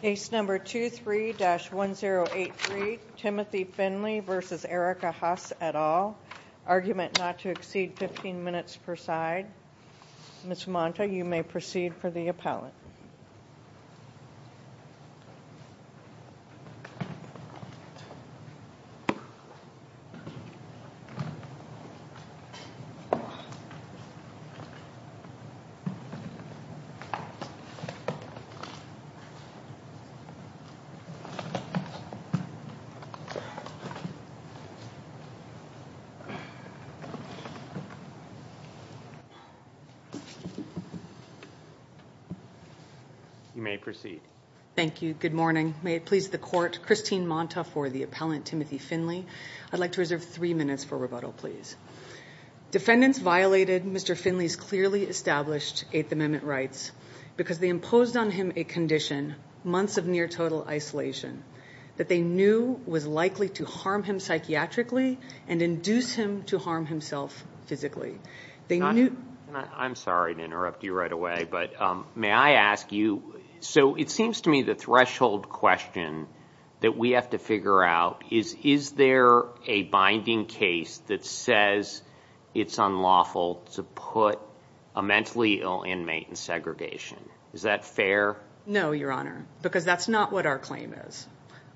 Case number 23-1083, Timothy Finley v. Erica Huss et al., argument not to exceed 15 minutes per side. Ms. Monta, you may proceed for the appellate. You may proceed. Thank you. Good morning. May it please the Court, Christine Monta for the appellant, Timothy Finley. I'd like to reserve three minutes for rebuttal, please. Defendants violated Mr. Finley's clearly established Eighth Amendment rights because they imposed on him a condition, months of near-total isolation, that they knew was likely to harm him psychiatrically and induce him to harm himself physically. I'm sorry to interrupt you right away, but may I ask you, so it seems to me the threshold question that we have to figure out is, is there a binding case that says it's unlawful to put a mentally ill inmate in segregation? Is that fair? No, Your Honor, because that's not what our claim is.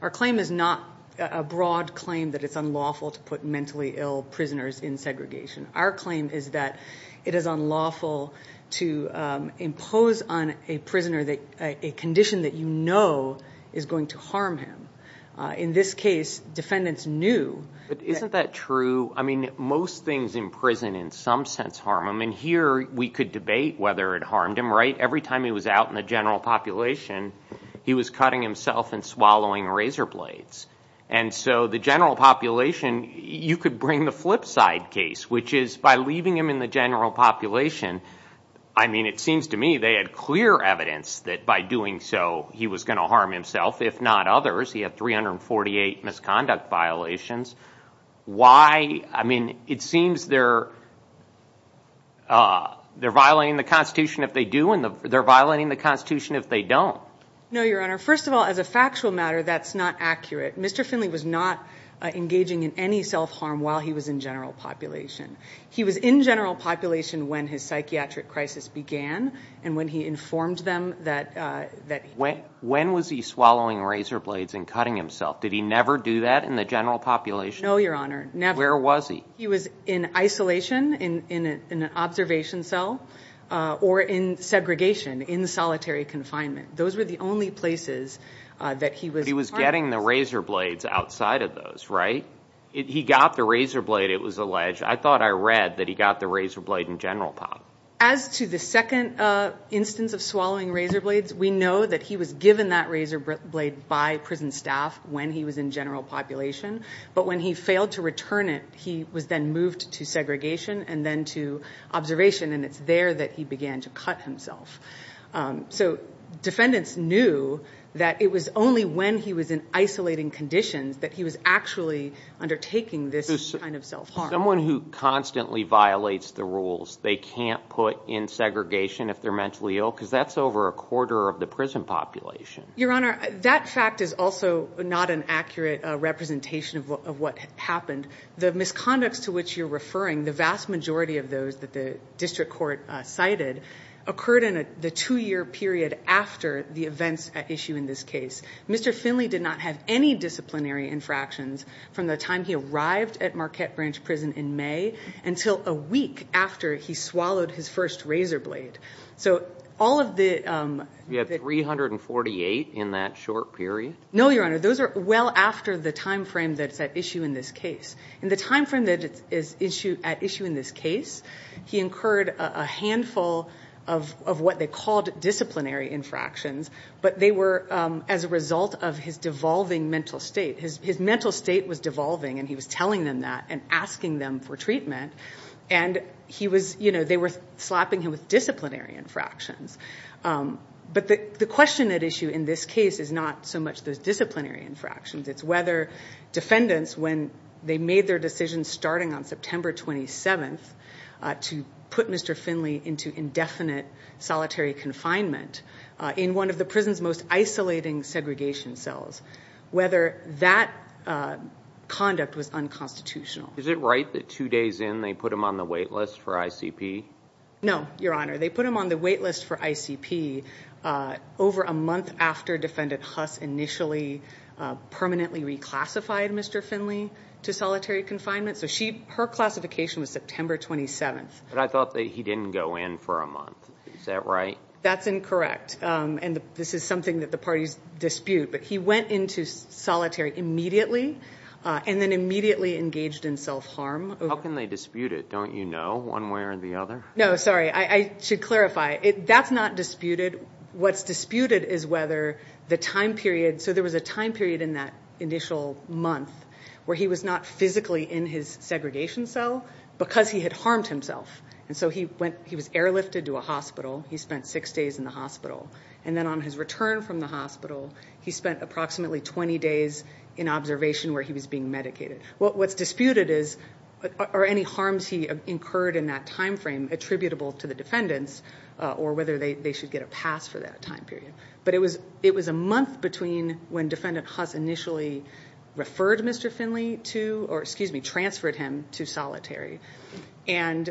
Our claim is not a broad claim that it's unlawful to put mentally ill prisoners in segregation. Our claim is that it is unlawful to impose on a prisoner a condition that you know is going to harm him. In this case, defendants knew that... Isn't that true? I mean, most things in prison in some sense harm him, and here we could debate whether it harmed him. Every time he was out in the general population, he was cutting himself and swallowing razor blades. And so the general population, you could bring the flip side case, which is by leaving him in the general population, I mean, it seems to me they had clear evidence that by doing so he was going to harm himself, if not others. He had 348 misconduct violations. Why? I mean, it seems they're violating the Constitution if they do, and they're violating the Constitution if they don't. No, Your Honor. First of all, as a factual matter, that's not accurate. Mr. Finley was not engaging in any self-harm while he was in general population. He was in general population when his psychiatric crisis began, and when he informed them that... When was he swallowing razor blades and cutting himself? Did he never do that in the general population? No, Your Honor. Never. Where was he? He was in isolation, in an observation cell, or in segregation, in solitary confinement. Those were the only places that he was... But he was getting the razor blades outside of those, right? He got the razor blade, it was alleged. I thought I read that he got the razor blade in general time. As to the second instance of swallowing razor blades, we know that he was given that razor blade by prison staff when he was in general population, but when he failed to return it, he was then moved to segregation and then to observation, and it's there that he began to cut himself. So defendants knew that it was only when he was in isolating conditions that he was actually undertaking this kind of self-harm. Someone who constantly violates the rules, they can't put in segregation if they're mentally ill? Because that's over a quarter of the prison population. Your Honor, that fact is also not an accurate representation of what happened. The misconducts to which you're referring, the vast majority of those that the district court cited, occurred in the two-year period after the events at issue in this case. Mr. Finley did not have any disciplinary infractions from the time he arrived at Marquette Branch Prison in May until a week after he swallowed his first razor blade. So all of the... You had 348 in that short period? No, Your Honor. Those are well after the time frame that's at issue in this case. In the time frame that is at issue in this case, he incurred a handful of what they called disciplinary infractions, but they were as a result of his devolving mental state. His mental state was devolving and he was telling them that and asking them for treatment, and they were slapping him with disciplinary infractions. But the question at issue in this case is not so much those disciplinary infractions. It's whether defendants, when they made their decision starting on September 27th to put Mr. Finley into indefinite solitary confinement in one of the prison's most isolating segregation cells, whether that conduct was unconstitutional. Is it right that two days in they put him on the wait list for ICP? No, Your Honor. They put him on the wait list for ICP over a month after Defendant Huss initially permanently reclassified Mr. Finley to solitary confinement. Her classification was September 27th. But I thought that he didn't go in for a month. Is that right? That's incorrect. This is something that the parties dispute, but he went into solitary immediately and then immediately engaged in self-harm. How can they dispute it? Don't you know one way or the other? No, sorry. I should clarify. That's not disputed. What's disputed is whether the time period, so there was a time period in that initial month where he was not physically in his segregation cell because he had harmed himself. And so he was airlifted to a hospital. He spent six days in the hospital. And then on his return from the hospital, he spent approximately 20 days in observation where he was being medicated. What's disputed is are any harms he incurred in that time frame attributable to the defendants or whether they should get a pass for that time period. But it was a month between when Defendant Huss initially referred Mr. Finley to, or excuse me, transferred him to solitary, and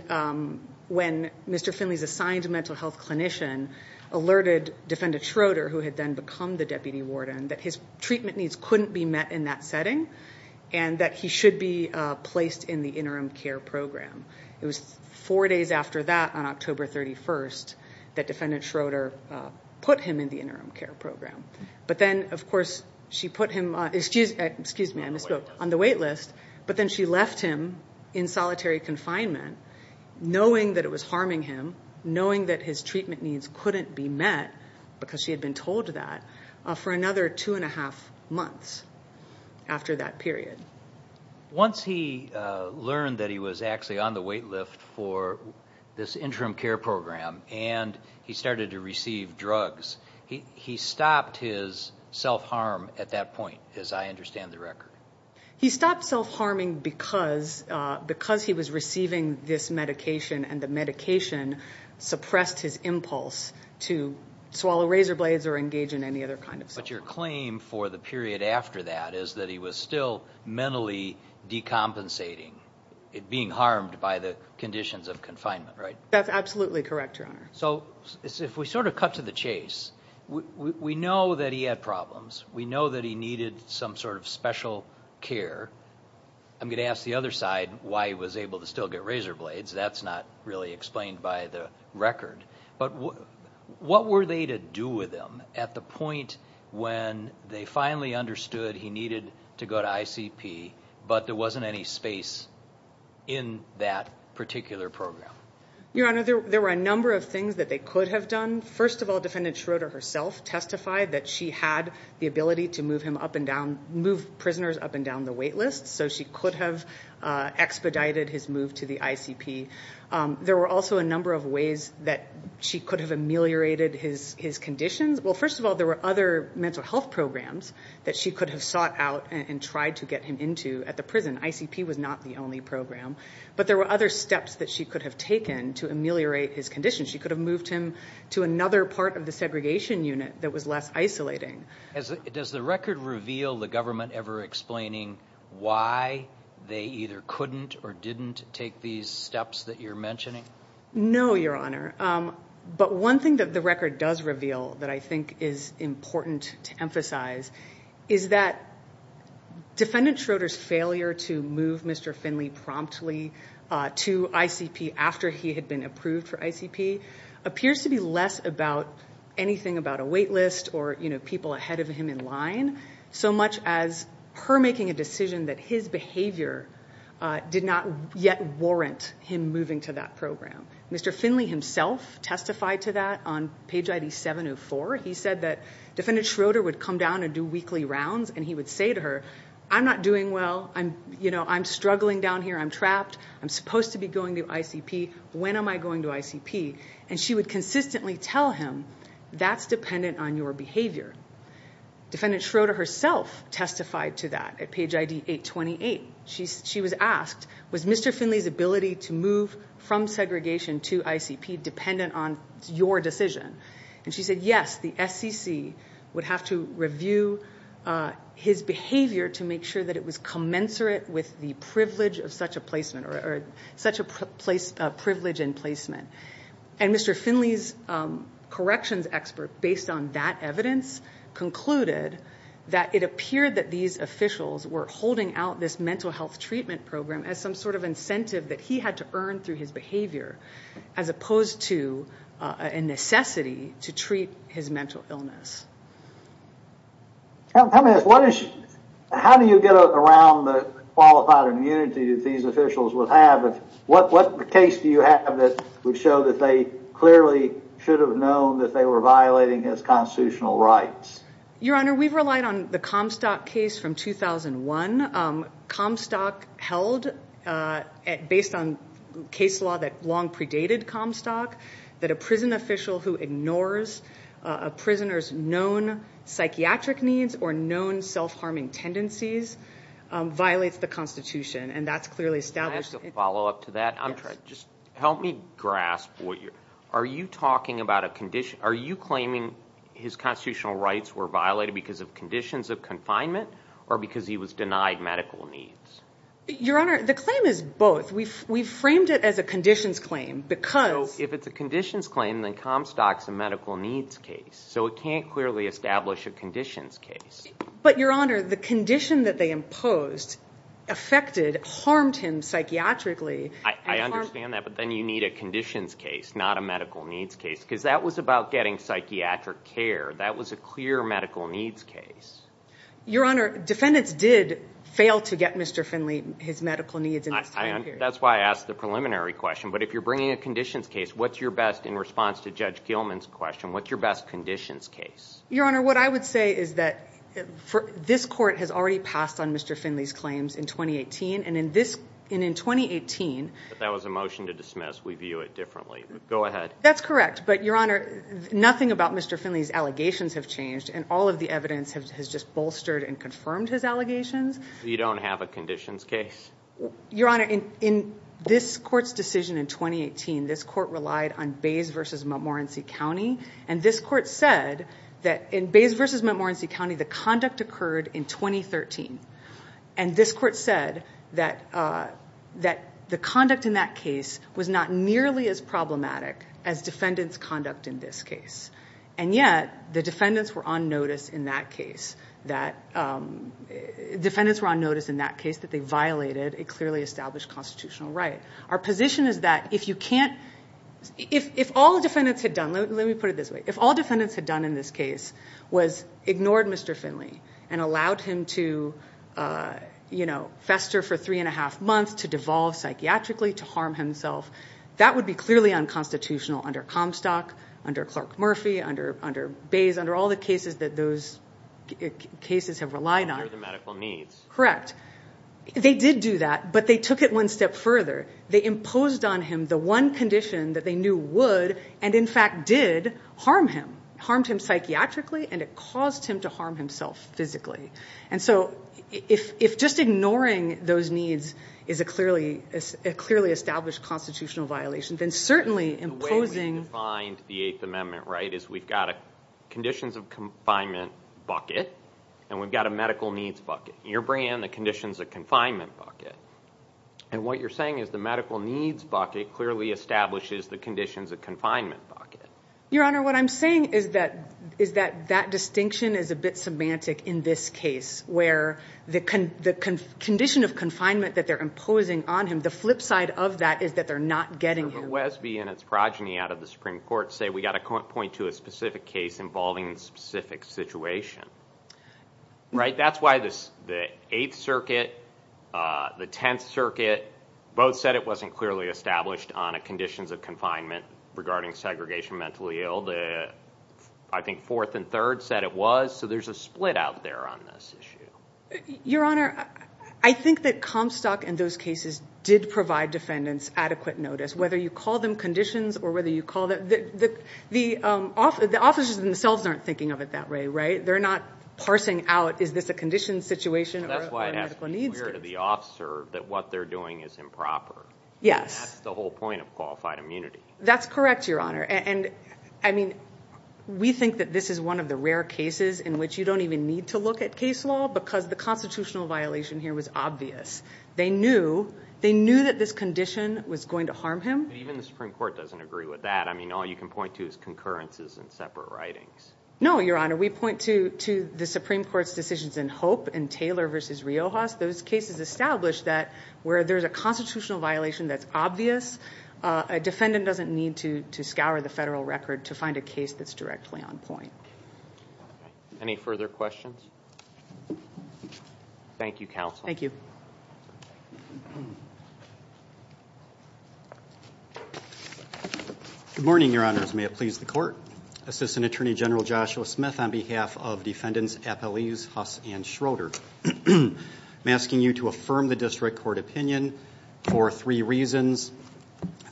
when Mr. Finley's assigned mental health clinician alerted Defendant Schroeder, who had then become the deputy warden, that his treatment needs couldn't be met in that setting and that he should be placed in the interim care program. It was four days after that, on October 31st, that Defendant Schroeder put him in the interim care program. But then, of course, she put him on the wait list, but then she left him in solitary confinement knowing that it was harming him, knowing that his treatment needs couldn't be met because she had been told that, for another two and a half months after that period. Once he learned that he was actually on the wait list for this interim care program and he started to receive drugs, he stopped his self-harm at that point, as I understand the He stopped self-harming because he was receiving this medication and the medication suppressed his impulse to swallow razor blades or engage in any other kind of self-harm. But your claim for the period after that is that he was still mentally decompensating, being harmed by the conditions of confinement, right? That's absolutely correct, Your Honor. So if we sort of cut to the chase, we know that he had problems. We know that he needed some sort of special care. I'm going to ask the other side why he was able to still get razor blades. That's not really explained by the record. But what were they to do with him at the point when they finally understood he needed to go to ICP, but there wasn't any space in that particular program? Your Honor, there were a number of things that they could have done. First of all, Defendant Schroeder herself testified that she had the ability to move him up and down, move prisoners up and down the wait list. So she could have expedited his move to the ICP. There were also a number of ways that she could have ameliorated his conditions. Well, first of all, there were other mental health programs that she could have sought out and tried to get him into at the prison. ICP was not the only program. But there were other steps that she could have taken to ameliorate his condition. She could have moved him to another part of the segregation unit that was less isolating. Does the record reveal the government ever explaining why they either couldn't or didn't take these steps that you're mentioning? No, Your Honor. But one thing that the record does reveal that I think is important to emphasize is that Defendant Schroeder's failure to move Mr. Finley promptly to ICP after he had been approved for ICP appears to be less about anything about a wait list or people ahead of him in line, so much as her making a decision that his behavior did not yet warrant him moving to that program. Mr. Finley himself testified to that on page ID 704. He said that Defendant Schroeder would come down and do weekly rounds and he would say to her, I'm not doing well, I'm struggling down here, I'm trapped, I'm supposed to be going to ICP, when am I going to ICP? And she would consistently tell him, that's dependent on your behavior. Defendant Schroeder herself testified to that at page ID 828. She was asked, was Mr. Finley's ability to move from segregation to ICP dependent on your decision? And she said, yes, the SEC would have to review his behavior to make sure that it was commensurate with the privilege of such a placement, or such a privilege in placement. And Mr. Finley's corrections expert, based on that evidence, concluded that it appeared that these officials were holding out this mental health treatment program as some sort of incentive that he had to earn through his behavior, as opposed to a necessity to treat his mental illness. How do you get around the qualified immunity that these officials would have? What case do you have that would show that they clearly should have known that they were violating his constitutional rights? Your Honor, we've relied on the Comstock case from 2001. Comstock held, based on case law that long predated Comstock, that a prison official who ignores a prisoner's known psychiatric needs or known self-harming tendencies violates the Constitution. And that's clearly established. Can I ask a follow-up to that? Help me grasp, are you claiming his constitutional rights were violated because of conditions of confinement, or because he was denied medical needs? Your Honor, the claim is both. We framed it as a conditions claim, because... If it's a conditions claim, then Comstock's a medical needs case. So it can't clearly establish a conditions case. But Your Honor, the condition that they imposed affected, harmed him psychiatrically. I understand that, but then you need a conditions case, not a medical needs case, because that was about getting psychiatric care. That was a clear medical needs case. Your Honor, defendants did fail to get Mr. Finley his medical needs in this time period. That's why I asked the preliminary question. But if you're bringing a conditions case, what's your best, in response to Judge Gilman's question, what's your best conditions case? Your Honor, what I would say is that this court has already passed on Mr. Finley's claims in 2018, and in 2018... That was a motion to dismiss. We view it differently. Go ahead. That's correct. But Your Honor, nothing about Mr. Finley's allegations have changed, and all of the evidence has just bolstered and confirmed his allegations. You don't have a conditions case? Your Honor, in this court's decision in 2018, this court relied on Bays v. Montmorency County, and this court said that in Bays v. Montmorency County, the conduct occurred in 2013. And this court said that the conduct in that case was not nearly as problematic as defendants' conduct in this case. And yet, the defendants were on notice in that case, that defendants were on notice in that case that they violated a clearly established constitutional right. Our position is that if you can't... If all defendants had done, let me put it this way. If all defendants had done in this case was ignored Mr. Finley, and allowed him to fester for three and a half months, to devolve psychiatrically, to harm himself, that would be clearly unconstitutional under Comstock, under Clark Murphy, under Bays, under all the cases that those cases have relied on. Under the medical needs. Correct. They did do that, but they took it one step further. They imposed on him the one condition that they knew would, and in fact did, harm him. Harmed him psychiatrically, and it caused him to harm himself physically. And so, if just ignoring those needs is a clearly established constitutional violation, then certainly imposing... The way we've defined the Eighth Amendment, right, is we've got a conditions of confinement bucket, and we've got a medical needs bucket. And you're bringing in the conditions of confinement bucket. And what you're saying is the medical needs bucket clearly establishes the conditions of confinement bucket. Your Honor, what I'm saying is that that distinction is a bit semantic in this case, where the condition of confinement that they're imposing on him, the flip side of that is that they're not getting him. But Westby and its progeny out of the Supreme Court say, we've got to point to a specific case involving a specific situation, right? That's why the Eighth Circuit, the Tenth Circuit, both said it wasn't clearly established on a conditions of confinement regarding segregation mentally ill. I think Fourth and Third said it was, so there's a split out there on this issue. Your Honor, I think that Comstock and those cases did provide defendants adequate notice, whether you call them conditions or whether you call them... The officers themselves aren't thinking of it that way, right? They're not parsing out, is this a condition situation or a medical needs case? That's why it has to be clear to the officer that what they're doing is improper. Yes. That's the whole point of qualified immunity. That's correct, Your Honor. And I mean, we think that this is one of the rare cases in which you don't even need to look at case law because the constitutional violation here was obvious. They knew that this condition was going to harm him. Even the Supreme Court doesn't agree with that. I mean, all you can point to is concurrences and separate writings. No, Your Honor. We point to the Supreme Court's decisions in Hope and Taylor v. Riojas. Those cases established that where there's a constitutional violation that's obvious, a defendant doesn't need to scour the federal record to find a case that's directly on point. Any further questions? Thank you, Counsel. Thank you. Good morning, Your Honors. May it please the Court. Assistant Attorney General Joshua Smith on behalf of Defendants Apeliz, Huss, and Schroeder. I'm asking you to affirm the district court opinion for three reasons.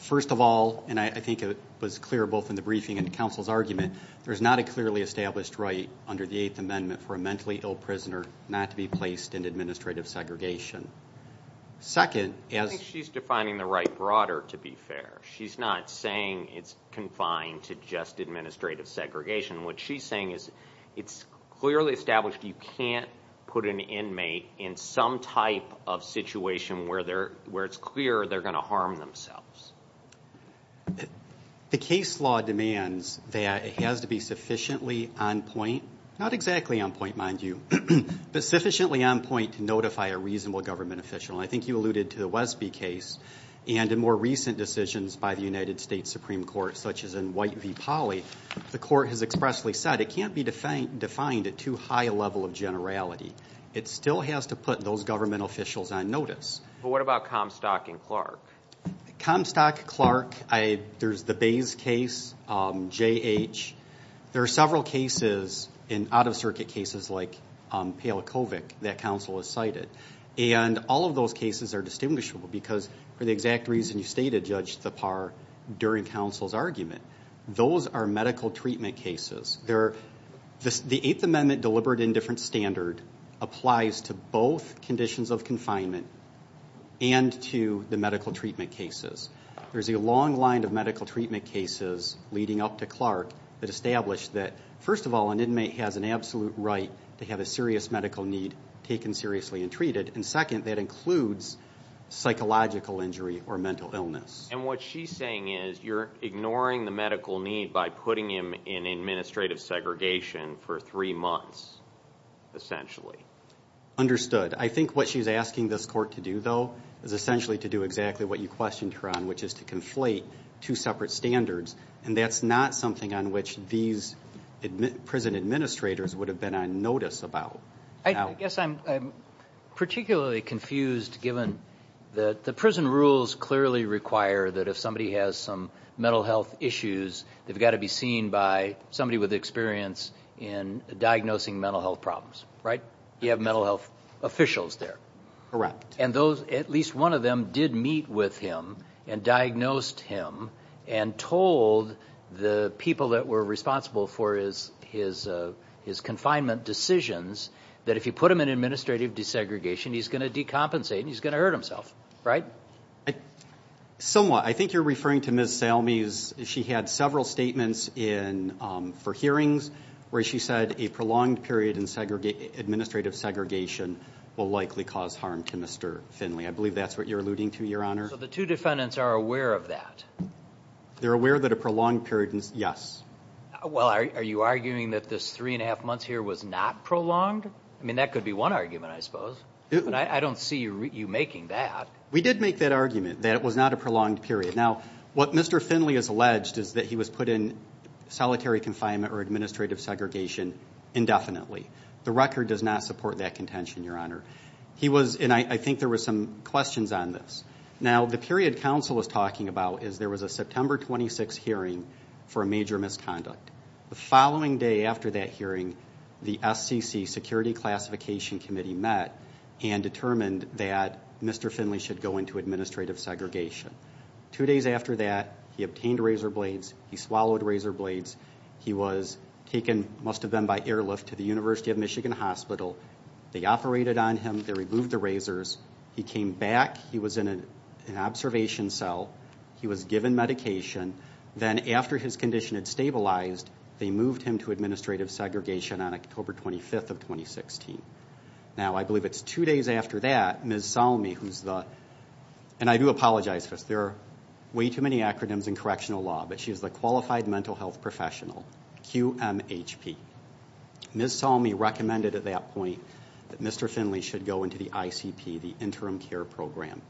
First of all, and I think it was clear both in the briefing and the counsel's argument, there's not a clearly established right under the Eighth Amendment for a mentally ill prisoner not to be placed in administrative segregation. Second, as- I think she's defining the right broader, to be fair. She's not saying it's confined to just administrative segregation. What she's saying is it's clearly established you can't put an inmate in some type of situation where it's clear they're going to harm themselves. The case law demands that it has to be sufficiently on point. Not exactly on point, mind you, but sufficiently on point to notify a reasonable government official. I think you alluded to the Wesby case and in more recent decisions by the United States Supreme Court, such as in White v. Pauley, the court has expressly said it can't be defined at too high a level of generality. It still has to put those government officials on notice. What about Comstock and Clark? Comstock, Clark, there's the Bays case, J.H. There are several cases in out-of-circuit cases like Palakovic that counsel has cited. All of those cases are distinguishable because for the exact reason you stated, Judge Thapar, during counsel's argument. Those are medical treatment cases. The Eighth Amendment delivered in different standard applies to both conditions of confinement and to the medical treatment cases. There's a long line of medical treatment cases leading up to Clark that establish that first of all, an inmate has an absolute right to have a serious medical need taken seriously and treated. And second, that includes psychological injury or mental illness. And what she's saying is you're ignoring the medical need by putting him in administrative segregation for three months, essentially. I think what she's asking this court to do, though, is essentially to do exactly what you questioned her on, which is to conflate two separate standards. And that's not something on which these prison administrators would have been on notice about. I guess I'm particularly confused given that the prison rules clearly require that if somebody has some mental health issues, they've got to be seen by somebody with experience in diagnosing mental health problems, right? You have mental health officials there. Correct. And those, at least one of them, did meet with him and diagnosed him and told the people that were responsible for his confinement decisions that if you put him in administrative desegregation, he's going to decompensate and he's going to hurt himself, right? Somewhat. I think you're referring to Ms. Salmi. She had several statements for hearings where she said a prolonged period in administrative segregation will likely cause harm to Mr. Finley. I believe that's what you're alluding to, Your Honor. So the two defendants are aware of that? They're aware that a prolonged period is, yes. Well, are you arguing that this three and a half months here was not prolonged? I mean, that could be one argument, I suppose. I don't see you making that. We did make that argument, that it was not a prolonged period. Now, what Mr. Finley has alleged is that he was put in solitary confinement or administrative segregation indefinitely. The record does not support that contention, Your Honor. He was, and I think there were some questions on this. Now, the period counsel was talking about is there was a September 26th hearing for a major misconduct. The following day after that hearing, the SCC, Security Classification Committee, met and determined that Mr. Finley should go into administrative segregation. Two days after that, he obtained razor blades, he swallowed razor blades, he was taken, must go to University of Michigan Hospital, they operated on him, they removed the razors, he came back, he was in an observation cell, he was given medication, then after his condition had stabilized, they moved him to administrative segregation on October 25th of 2016. Now, I believe it's two days after that, Ms. Salmi, who's the, and I do apologize, because there are way too many acronyms in correctional law, but she's the Qualified Mental Health Professional, QMHP. Ms. Salmi recommended at that point that Mr. Finley should go into the ICP, the Interim Care Program.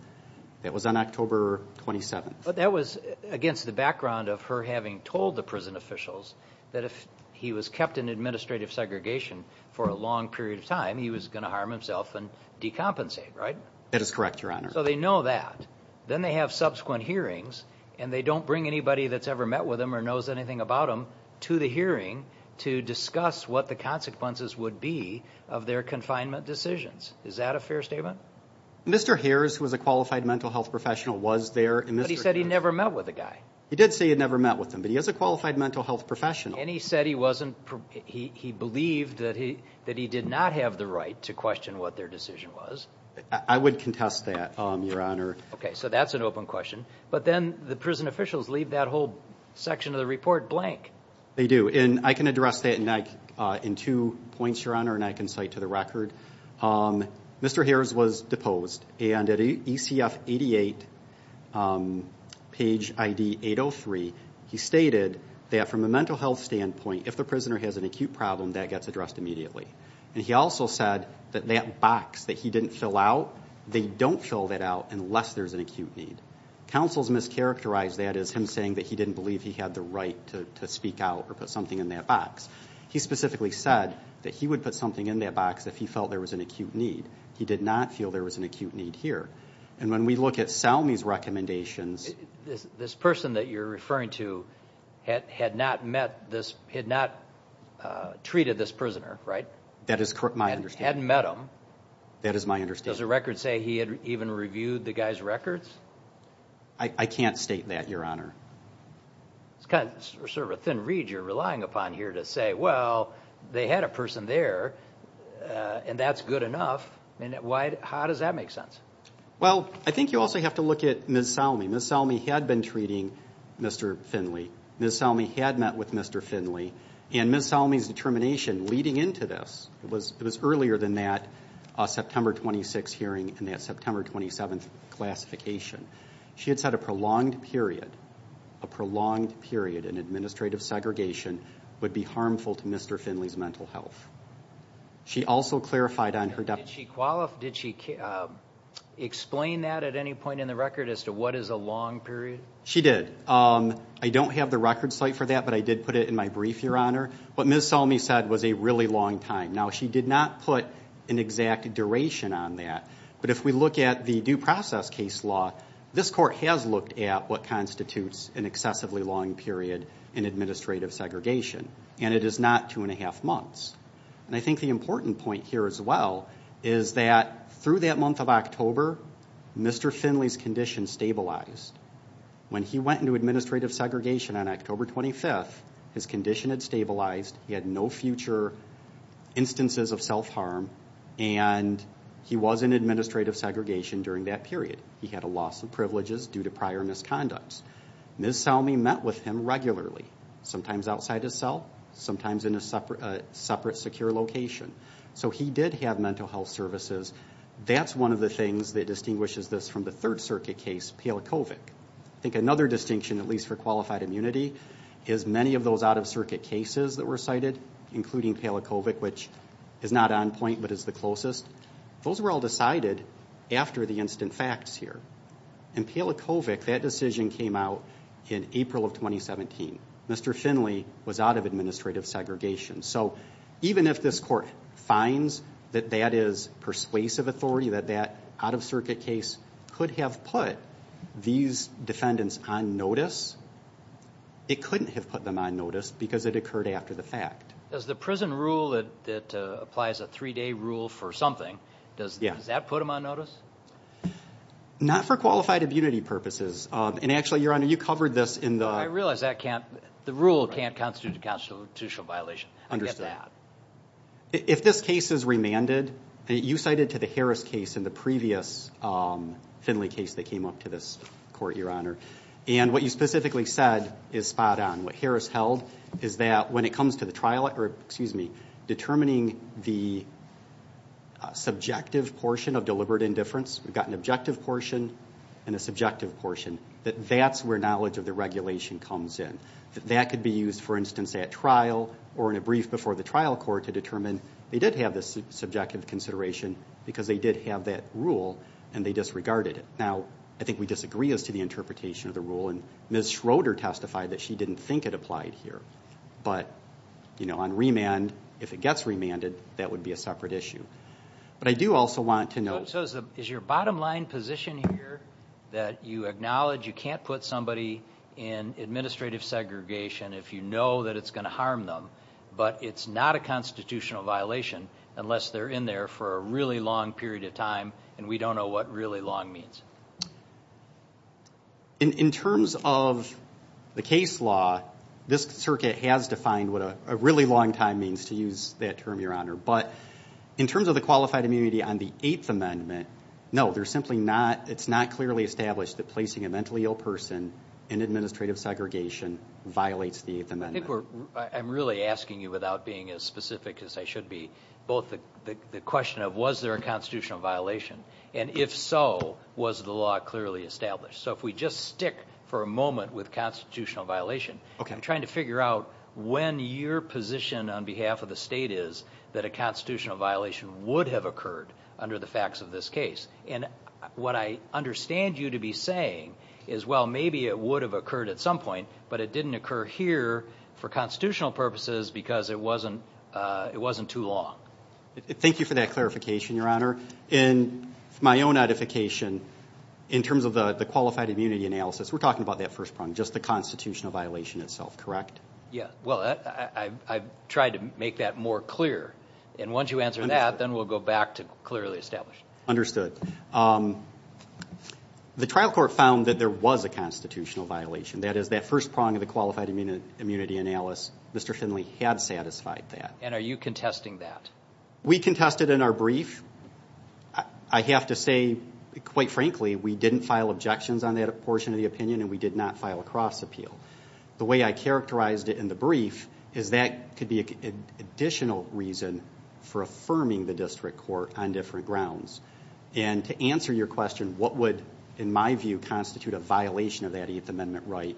That was on October 27th. That was against the background of her having told the prison officials that if he was kept in administrative segregation for a long period of time, he was going to harm himself and decompensate, right? That is correct, Your Honor. So they know that. Then they have subsequent hearings, and they don't bring anybody that's ever met with him or knows anything about him to the hearing to discuss what the consequences would be of their confinement decisions. Is that a fair statement? Mr. Hares, who was a Qualified Mental Health Professional, was there. But he said he never met with the guy. He did say he never met with him, but he is a Qualified Mental Health Professional. And he said he wasn't, he believed that he did not have the right to question what their decision was. I would contest that, Your Honor. Okay, so that's an open question. But then the prison officials leave that whole section of the report blank. They do. And I can address that in two points, Your Honor, and I can cite to the record. Mr. Hares was deposed. And at ECF 88, page ID 803, he stated that from a mental health standpoint, if the prisoner has an acute problem, that gets addressed immediately. And he also said that that box that he didn't fill out, they don't fill that out unless there's an acute need. Counsels mischaracterized that as him saying that he didn't believe he had the right to speak out or put something in that box. He specifically said that he would put something in that box if he felt there was an acute need. He did not feel there was an acute need here. And when we look at Salmi's recommendations... This person that you're referring to had not met this, had not treated this prisoner, right? That is my understanding. Hadn't met him. That is my understanding. Does the record say he had even reviewed the guy's records? I can't state that, Your Honor. It's kind of sort of a thin reed you're relying upon here to say, well, they had a person there and that's good enough. How does that make sense? Well, I think you also have to look at Ms. Salmi. Ms. Salmi had been treating Mr. Finley. Ms. Salmi had met with Mr. Finley. And Ms. Salmi's determination leading into this, it was earlier than that, September 26th hearing and that September 27th classification. She had said a prolonged period, a prolonged period in administrative segregation would be harmful to Mr. Finley's mental health. She also clarified on her... Did she qualify? Did she explain that at any point in the record as to what is a long period? She did. I don't have the record site for that, but I did put it in my brief, Your Honor. What Ms. Salmi said was a really long time. Now, she did not put an exact duration on that, but if we look at the due process case law, this court has looked at what constitutes an excessively long period in administrative segregation and it is not two and a half months. And I think the important point here as well is that through that month of October, Mr. Finley's condition stabilized. When he went into administrative segregation on October 25th, his condition had stabilized. He had no future instances of self-harm and he was in administrative segregation during that period. He had a loss of privileges due to prior misconducts. Ms. Salmi met with him regularly, sometimes outside his cell, sometimes in a separate secure location. So he did have mental health services. That's one of the things that distinguishes this from the Third Circuit case, PLCOVIC. I think another distinction, at least for qualified immunity, is many of those out of circuit cases were all decided, including PLCOVIC, which is not on point, but is the closest. Those were all decided after the instant facts here. In PLCOVIC, that decision came out in April of 2017. Mr. Finley was out of administrative segregation. So even if this court finds that that is persuasive authority, that that out of circuit case could have put these defendants on notice, it couldn't have put them on notice because it occurred after the fact. Does the prison rule that applies a three-day rule for something, does that put them on notice? Not for qualified immunity purposes. And actually, Your Honor, you covered this in the... I realize that can't... The rule can't constitute a constitutional violation. I get that. If this case is remanded, you cited to the Harris case in the previous Finley case that came up to this court, Your Honor, and what you specifically said is spot on. What Harris held is that when it comes to the trial, excuse me, determining the subjective portion of deliberate indifference, we've got an objective portion and a subjective portion, that that's where knowledge of the regulation comes in. That could be used, for instance, at trial or in a brief before the trial court to determine they did have this subjective consideration because they did have that rule and they disregarded it. Now, I think we disagree as to the interpretation of the rule, and Ms. Schroeder testified that she didn't think it applied here, but on remand, if it gets remanded, that would be a separate issue. But I do also want to know... So is your bottom line position here that you acknowledge you can't put somebody in administrative segregation if you know that it's going to harm them, but it's not a constitutional violation unless they're in there for a really long period of time and we don't know what really long means? In terms of the case law, this circuit has defined what a really long time means, to use that term, Your Honor. But in terms of the qualified immunity on the Eighth Amendment, no, there's simply not... It's not clearly established that placing a mentally ill person in administrative segregation violates the Eighth Amendment. I'm really asking you, without being as specific as I should be, both the question of was there a constitutional violation, and if so, was the law clearly established? So if we just stick for a moment with constitutional violation, I'm trying to figure out when your position on behalf of the state is that a constitutional violation would have occurred under the facts of this case. And what I understand you to be saying is, well, maybe it would have occurred at some point, but it didn't occur here for constitutional purposes because it wasn't too long. Thank you for that clarification, Your Honor. In my own edification, in terms of the qualified immunity analysis, we're talking about that first prong, just the constitutional violation itself, correct? Yeah, well, I've tried to make that more clear. And once you answer that, then we'll go back to clearly established. Understood. The trial court found that there was a constitutional violation, that is, that first prong of the qualified immunity analysis, Mr. Finley had satisfied that. And are you contesting that? We contested in our brief. I have to say, quite frankly, we didn't file objections on that portion of the opinion and we did not file a cross appeal. The way I characterized it in the brief is that could be an additional reason for affirming the district court on different grounds. And to answer your question, what would, in my view, constitute a violation of that Eighth Amendment right,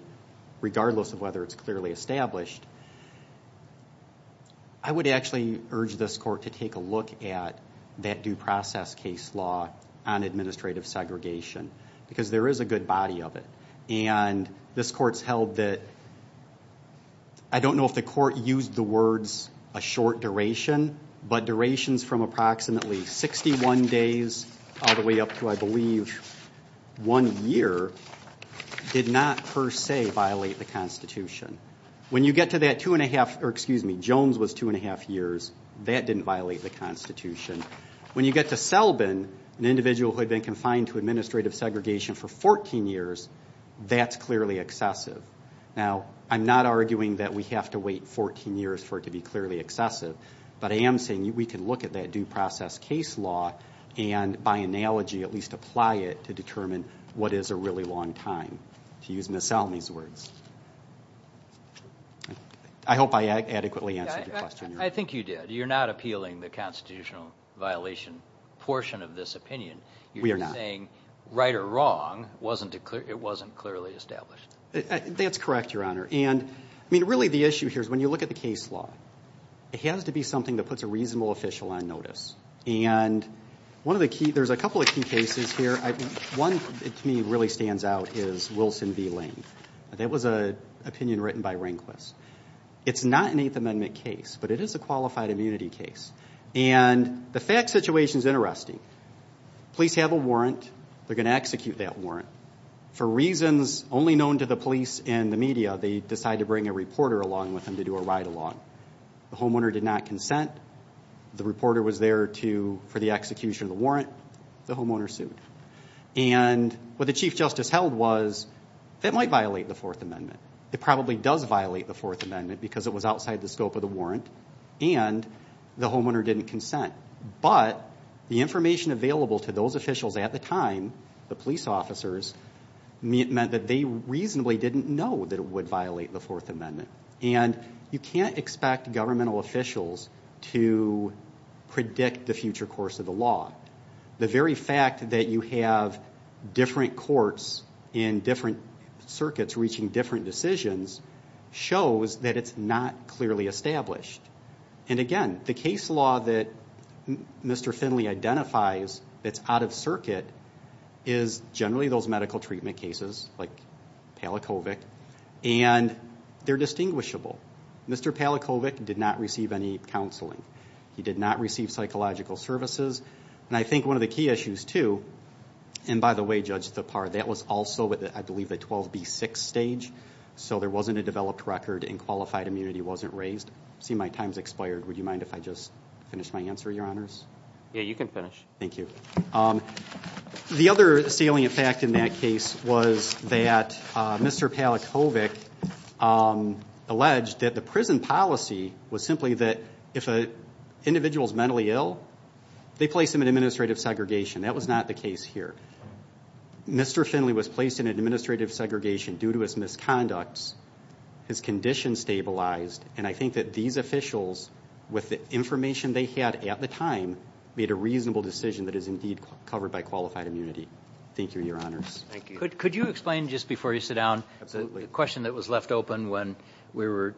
regardless of whether it's clearly established? I would actually urge this court to take a look at that due process case law on administrative segregation because there is a good body of it. And this court's held that, I don't know if the court used the words a short duration, but durations from approximately 61 days all the way up to, I believe, one year did not per se violate the Constitution. When you get to that two and a half, or excuse me, Jones was two and a half years, that didn't violate the Constitution. When you get to Selbin, an individual who had been confined to administrative segregation for 14 years, that's clearly excessive. Now, I'm not arguing that we have to wait 14 years for it to be clearly excessive, but I am saying we can look at that due process case law and, by analogy, at least apply it to determine what is a really long time, to use Ms. Salmi's words. I hope I adequately answered your question, Your Honor. I think you did. You're not appealing the constitutional violation portion of this opinion. We are not. You're just saying right or wrong, it wasn't clearly established. That's correct, Your Honor. And, I mean, really the issue here is when you look at the case law, it has to be something that puts a reasonable official on notice. And, one of the key, there's a couple of key cases here. One, to me, really stands out is Wilson v. Lane. That was an opinion written by Rehnquist. It's not an Eighth Amendment case, but it is a qualified immunity case. And, the fact situation is interesting. Police have a warrant. They're going to execute that warrant. For reasons only known to the police and the media, they decide to bring a reporter along with them to do a ride-along. The homeowner did not consent. The reporter was there for the execution of the warrant. The homeowner sued. And, what the Chief Justice held was, that might violate the Fourth Amendment. It probably does violate the Fourth Amendment because it was outside the scope of the warrant and the homeowner didn't consent. But, the information available to those officials at the time, the police officers, meant that they reasonably didn't know that it would violate the Fourth Amendment. And, you can't expect governmental officials to predict the future course of the law. The very fact that you have different courts in different circuits reaching different decisions shows that it's not clearly established. And, again, the case law that Mr. Finley identifies that's out of circuit is generally those medical treatment cases, like Palachovic. And, they're distinguishable. Mr. Palachovic did not receive any counseling. He did not receive psychological services. And, I think one of the key issues, too, and by the way, Judge Thapar, that was also at I believe the 12B6 stage. So, there wasn't a developed record and qualified immunity wasn't raised. See my time's expired. Would you mind if I just finish my answer, Your Honors? Yeah, you can finish. Thank you. The other salient fact in that case was that Mr. Palachovic alleged that the prison policy was simply that if an individual's mentally ill, they place them in administrative segregation. That was not the case here. Mr. Finley was placed in administrative segregation due to his misconducts, his condition stabilized. And, I think that these officials, with the information they had at the time, made a reasonable decision that is indeed covered by qualified immunity. Thank you, Your Honors. Thank you. Could you explain, just before you sit down, the question that was left open when we were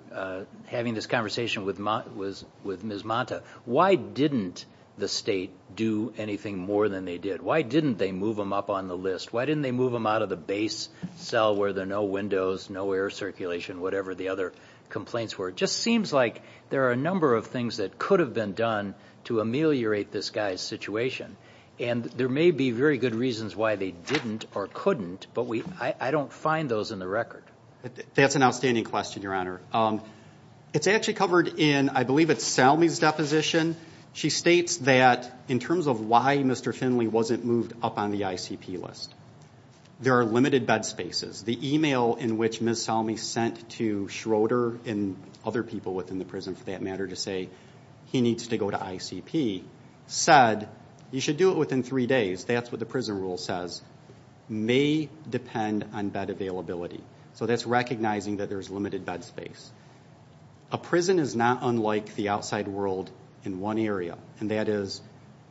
having this conversation with Ms. Manta. Why didn't the state do anything more than they did? Why didn't they move him up on the list? Why didn't they move him out of the base cell where there are no windows, no air circulation, whatever the other complaints were? Just seems like there are a number of things that could have been done to ameliorate this guy's situation. And, there may be very good reasons why they didn't or couldn't, but I don't find those in the record. That's an outstanding question, Your Honor. It's actually covered in, I believe it's Salmi's deposition. She states that in terms of why Mr. Finley wasn't moved up on the ICP list, there are limited bed spaces. The email in which Ms. Salmi sent to Schroeder and other people within the prison for that to say, he needs to go to ICP, said, you should do it within three days, that's what the prison rule says, may depend on bed availability. So that's recognizing that there's limited bed space. A prison is not unlike the outside world in one area, and that is,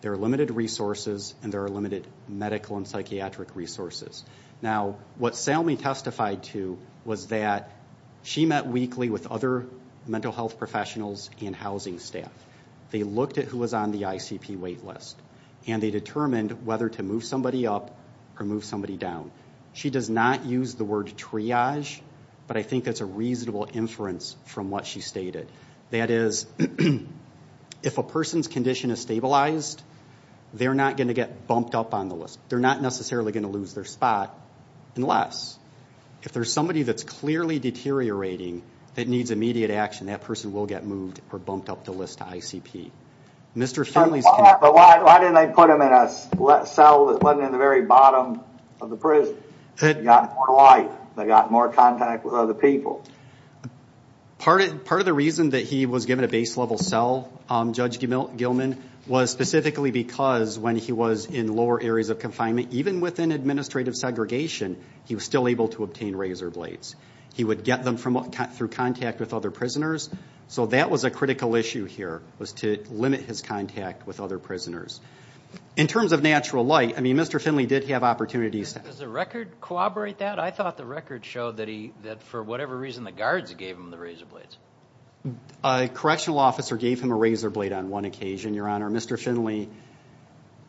there are limited resources and there are limited medical and psychiatric resources. Now, what Salmi testified to was that she met weekly with other mental health professionals and housing staff. They looked at who was on the ICP wait list, and they determined whether to move somebody up or move somebody down. She does not use the word triage, but I think that's a reasonable inference from what she stated. That is, if a person's condition is stabilized, they're not going to get bumped up on the list. They're not necessarily going to lose their spot, unless, if there's somebody that's clearly deteriorating that needs immediate action, that person will get moved or bumped up the list to ICP. Mr. Finley's condition- But why didn't they put him in a cell that wasn't in the very bottom of the prison? They got more life, they got more contact with other people. Part of the reason that he was given a base level cell, Judge Gilman, was specifically because when he was in lower areas of confinement, even within administrative segregation, he was still able to obtain razor blades. He would get them through contact with other prisoners, so that was a critical issue here, was to limit his contact with other prisoners. In terms of natural light, I mean, Mr. Finley did have opportunities to- Does the record corroborate that? I thought the record showed that for whatever reason, the guards gave him the razor blades. A correctional officer gave him a razor blade on one occasion, Your Honor. Mr. Finley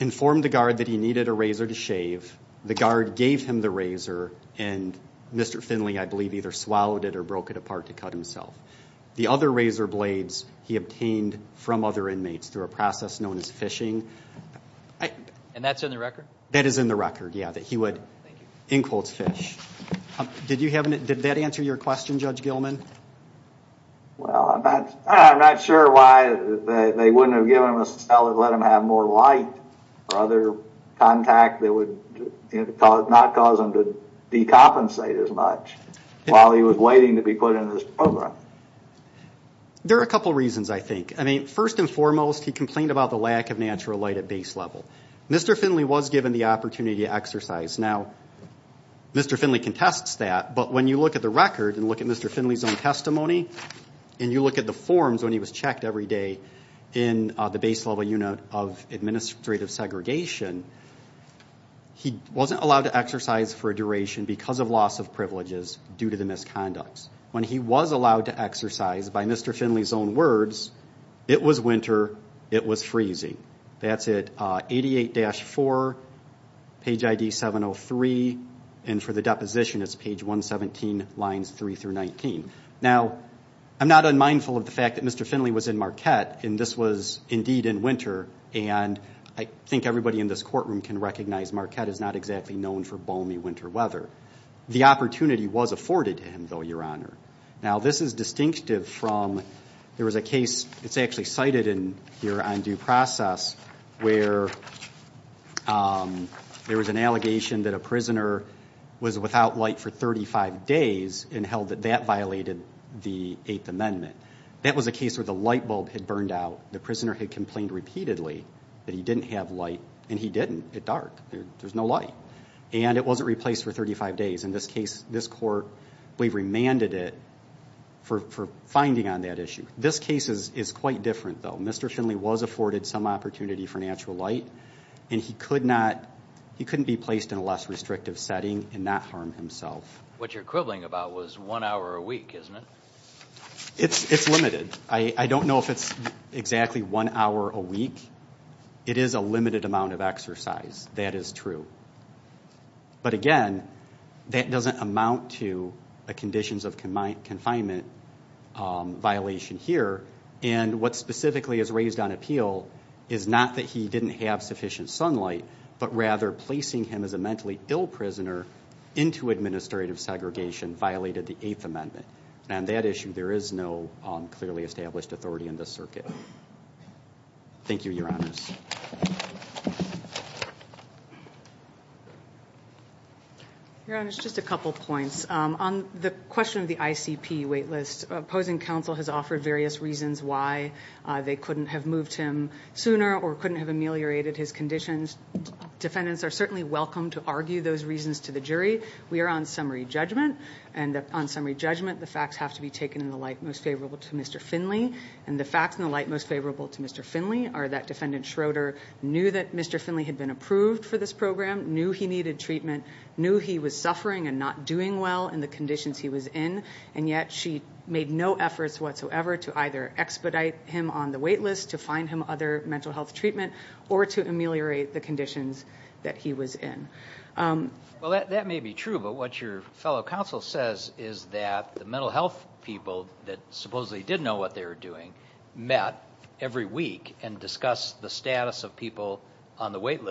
informed the guard that he needed a razor to shave. The guard gave him the razor, and Mr. Finley, I believe, either swallowed it or broke it apart to cut himself. The other razor blades he obtained from other inmates through a process known as fishing- And that's in the record? That is in the record, yeah, that he would, in quotes, fish. Did that answer your question, Judge Gilman? Well, I'm not sure why they wouldn't have given him a cell that let him have more light or other contact that would not cause him to decompensate as much while he was waiting to be put into this program. There are a couple reasons, I think. I mean, first and foremost, he complained about the lack of natural light at base level. Mr. Finley was given the opportunity to exercise. Now, Mr. Finley contests that, but when you look at the record and look at Mr. Finley's own testimony, and you look at the forms when he was checked every day in the base level unit of administrative segregation, he wasn't allowed to exercise for a duration because of loss of privileges due to the misconducts. When he was allowed to exercise, by Mr. Finley's own words, it was winter, it was freezing. That's at 88-4, page ID 703, and for the deposition, it's page 117, lines 3 through 19. Now, I'm not unmindful of the fact that Mr. Finley was in Marquette, and this was indeed in winter, and I think everybody in this courtroom can recognize Marquette is not exactly known for balmy winter weather. The opportunity was afforded to him, though, Your Honor. Now, this is distinctive from, there was a case, it's actually cited in here on due process, where there was an allegation that a prisoner was without light for 35 days, and held that that violated the Eighth Amendment. That was a case where the light bulb had burned out, the prisoner had complained repeatedly that he didn't have light, and he didn't, it dark, there's no light, and it wasn't replaced for 35 days. In this case, this court, we've remanded it for finding on that issue. This case is quite different, though. Mr. Finley was afforded some opportunity for natural light, and he couldn't be placed in a less restrictive setting and not harm himself. What you're quibbling about was one hour a week, isn't it? It's limited. I don't know if it's exactly one hour a week. It is a limited amount of exercise. That is true. But again, that doesn't amount to a conditions of confinement violation here, and what specifically is raised on appeal is not that he didn't have sufficient sunlight, but rather placing him as a mentally ill prisoner into administrative segregation violated the Eighth Amendment, and on that issue, there is no clearly established authority in this circuit. Thank you, Your Honors. Your Honors, just a couple of points. On the question of the ICP wait list, opposing counsel has offered various reasons why they couldn't have moved him sooner or couldn't have ameliorated his conditions. Defendants are certainly welcome to argue those reasons to the jury. We are on summary judgment, and on summary judgment, the facts have to be taken in the light most favorable to Mr. Finley, and the facts in the light most favorable to Mr. Finley are that Defendant Schroeder knew that Mr. Finley had been approved for this program, knew he needed treatment, knew he was suffering and not doing well in the conditions he was in, and yet she made no efforts whatsoever to either expedite him on the wait list to find him other mental health treatment or to ameliorate the conditions that he was in. Well, that may be true, but what your fellow counsel says is that the mental health people that supposedly did know what they were doing met every week and discussed the status of people on the wait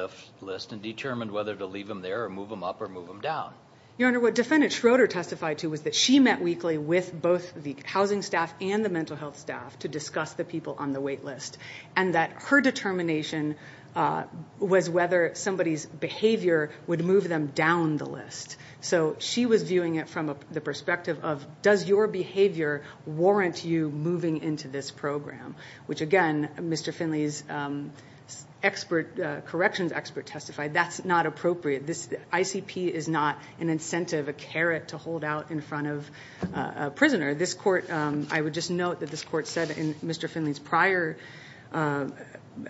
list and determined whether to leave them there or move them up or move them down. Your Honor, what Defendant Schroeder testified to was that she met weekly with both the housing staff and the mental health staff to discuss the people on the wait list, and that her determination was whether somebody's behavior would move them down the list. So she was viewing it from the perspective of, does your behavior warrant you moving into this program, which again, Mr. Finley's corrections expert testified, that's not appropriate. This ICP is not an incentive, a carrot to hold out in front of a prisoner. This court, I would just note that this court said in Mr. Finley's prior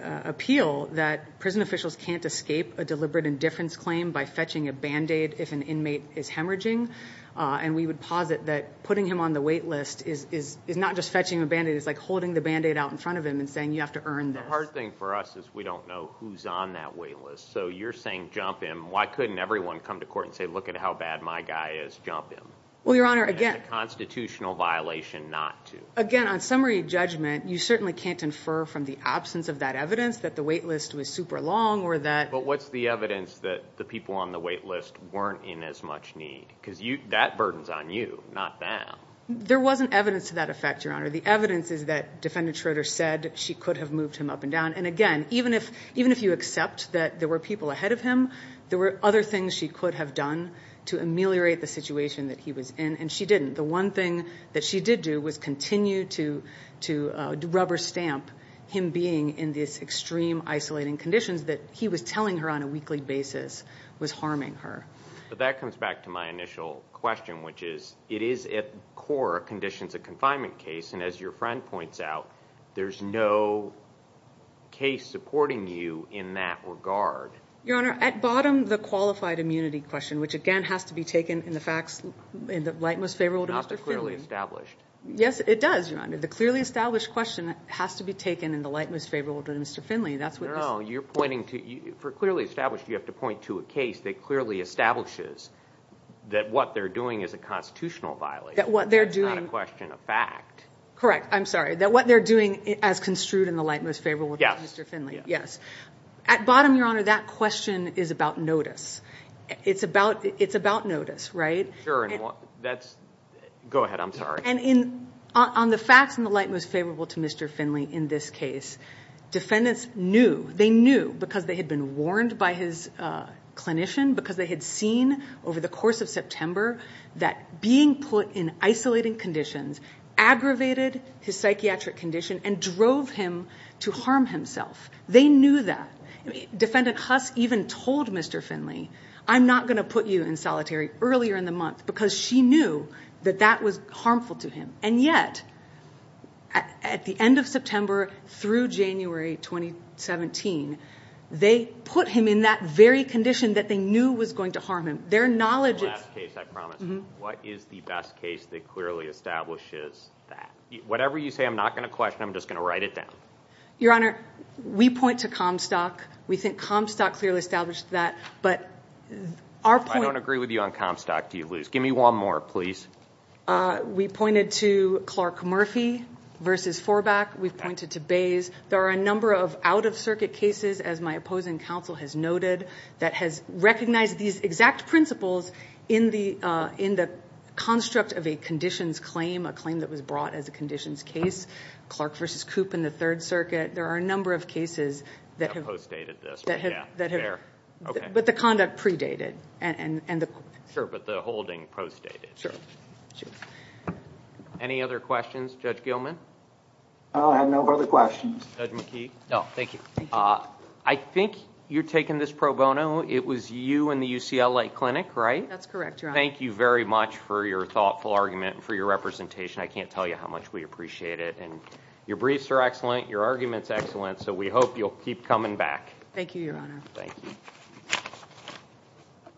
appeal that prison officials can't escape a deliberate indifference claim by fetching a Band-Aid if an inmate is hemorrhaging, and we would posit that putting him on the wait list is not just fetching a Band-Aid, it's like holding the Band-Aid out in front of him and saying, you have to earn this. The hard thing for us is we don't know who's on that wait list. So you're saying, jump him, why couldn't everyone come to court and say, look at how bad my guy is, jump him? That's a constitutional violation not to. Again, on summary judgment, you certainly can't infer from the absence of that evidence that the wait list was super long or that... But what's the evidence that the people on the wait list weren't in as much need? That burden's on you, not them. There wasn't evidence to that effect, Your Honor. The evidence is that Defendant Schroeder said she could have moved him up and down, and again, even if you accept that there were people ahead of him, there were other things she could have done to ameliorate the situation that he was in, and she didn't. The one thing that she did do was continue to rubber stamp him being in these extreme isolating conditions that he was telling her on a weekly basis was harming her. That comes back to my initial question, which is, it is at core a conditions of confinement case, and as your friend points out, there's no case supporting you in that regard. Your Honor, at bottom, the qualified immunity question, which again, has to be taken in the facts, in the light most favorable to Mr. Finley. Not the clearly established. Yes, it does, Your Honor. The clearly established question has to be taken in the light most favorable to Mr. Finley. No, you're pointing to... For clearly established, you have to point to a case that clearly establishes that what they're doing is a constitutional violation. That what they're doing... That's not a question of fact. Correct. I'm sorry. That what they're doing as construed in the light most favorable to Mr. Finley. Yes. At bottom, Your Honor, that question is about notice. It's about notice, right? Sure. That's... Go ahead. I'm sorry. On the facts in the light most favorable to Mr. Finley in this case, defendants knew. They knew because they had been warned by his clinician, because they had seen over the course of September that being put in isolating conditions aggravated his psychiatric condition and drove him to harm himself. They knew that. Defendant Huss even told Mr. Finley, I'm not going to put you in solitary earlier in the month because she knew that that was harmful to him. And yet, at the end of September through January 2017, they put him in that very condition that they knew was going to harm him. Their knowledge... The last case, I promise. Mm-hmm. What is the best case that clearly establishes that? Whatever you say, I'm not going to question. I'm just going to write it down. Your Honor, we point to Comstock. We think Comstock clearly established that. But our point... I don't agree with you on Comstock, do you, Luz? Give me one more, please. We pointed to Clark Murphy versus Forbach. We've pointed to Bays. There are a number of out-of-circuit cases, as my opposing counsel has noted, that has recognized these exact principles in the construct of a conditions claim, a claim that was brought as a conditions case. Clark versus Coop in the Third Circuit. There are a number of cases that have... That post-dated this, but yeah, they're okay. But the conduct pre-dated. Sure, but the holding post-dated. Sure. Any other questions? Judge Gilman? I have no further questions. Judge McKee? No, thank you. Thank you. I think you're taking this pro bono. It was you and the UCLA Clinic, right? That's correct, Your Honor. Thank you very much for your thoughtful argument and for your representation. I can't tell you how much we appreciate it. Your briefs are excellent. Your argument's excellent. So, we hope you'll keep coming back. Thank you, Your Honor. Thank you.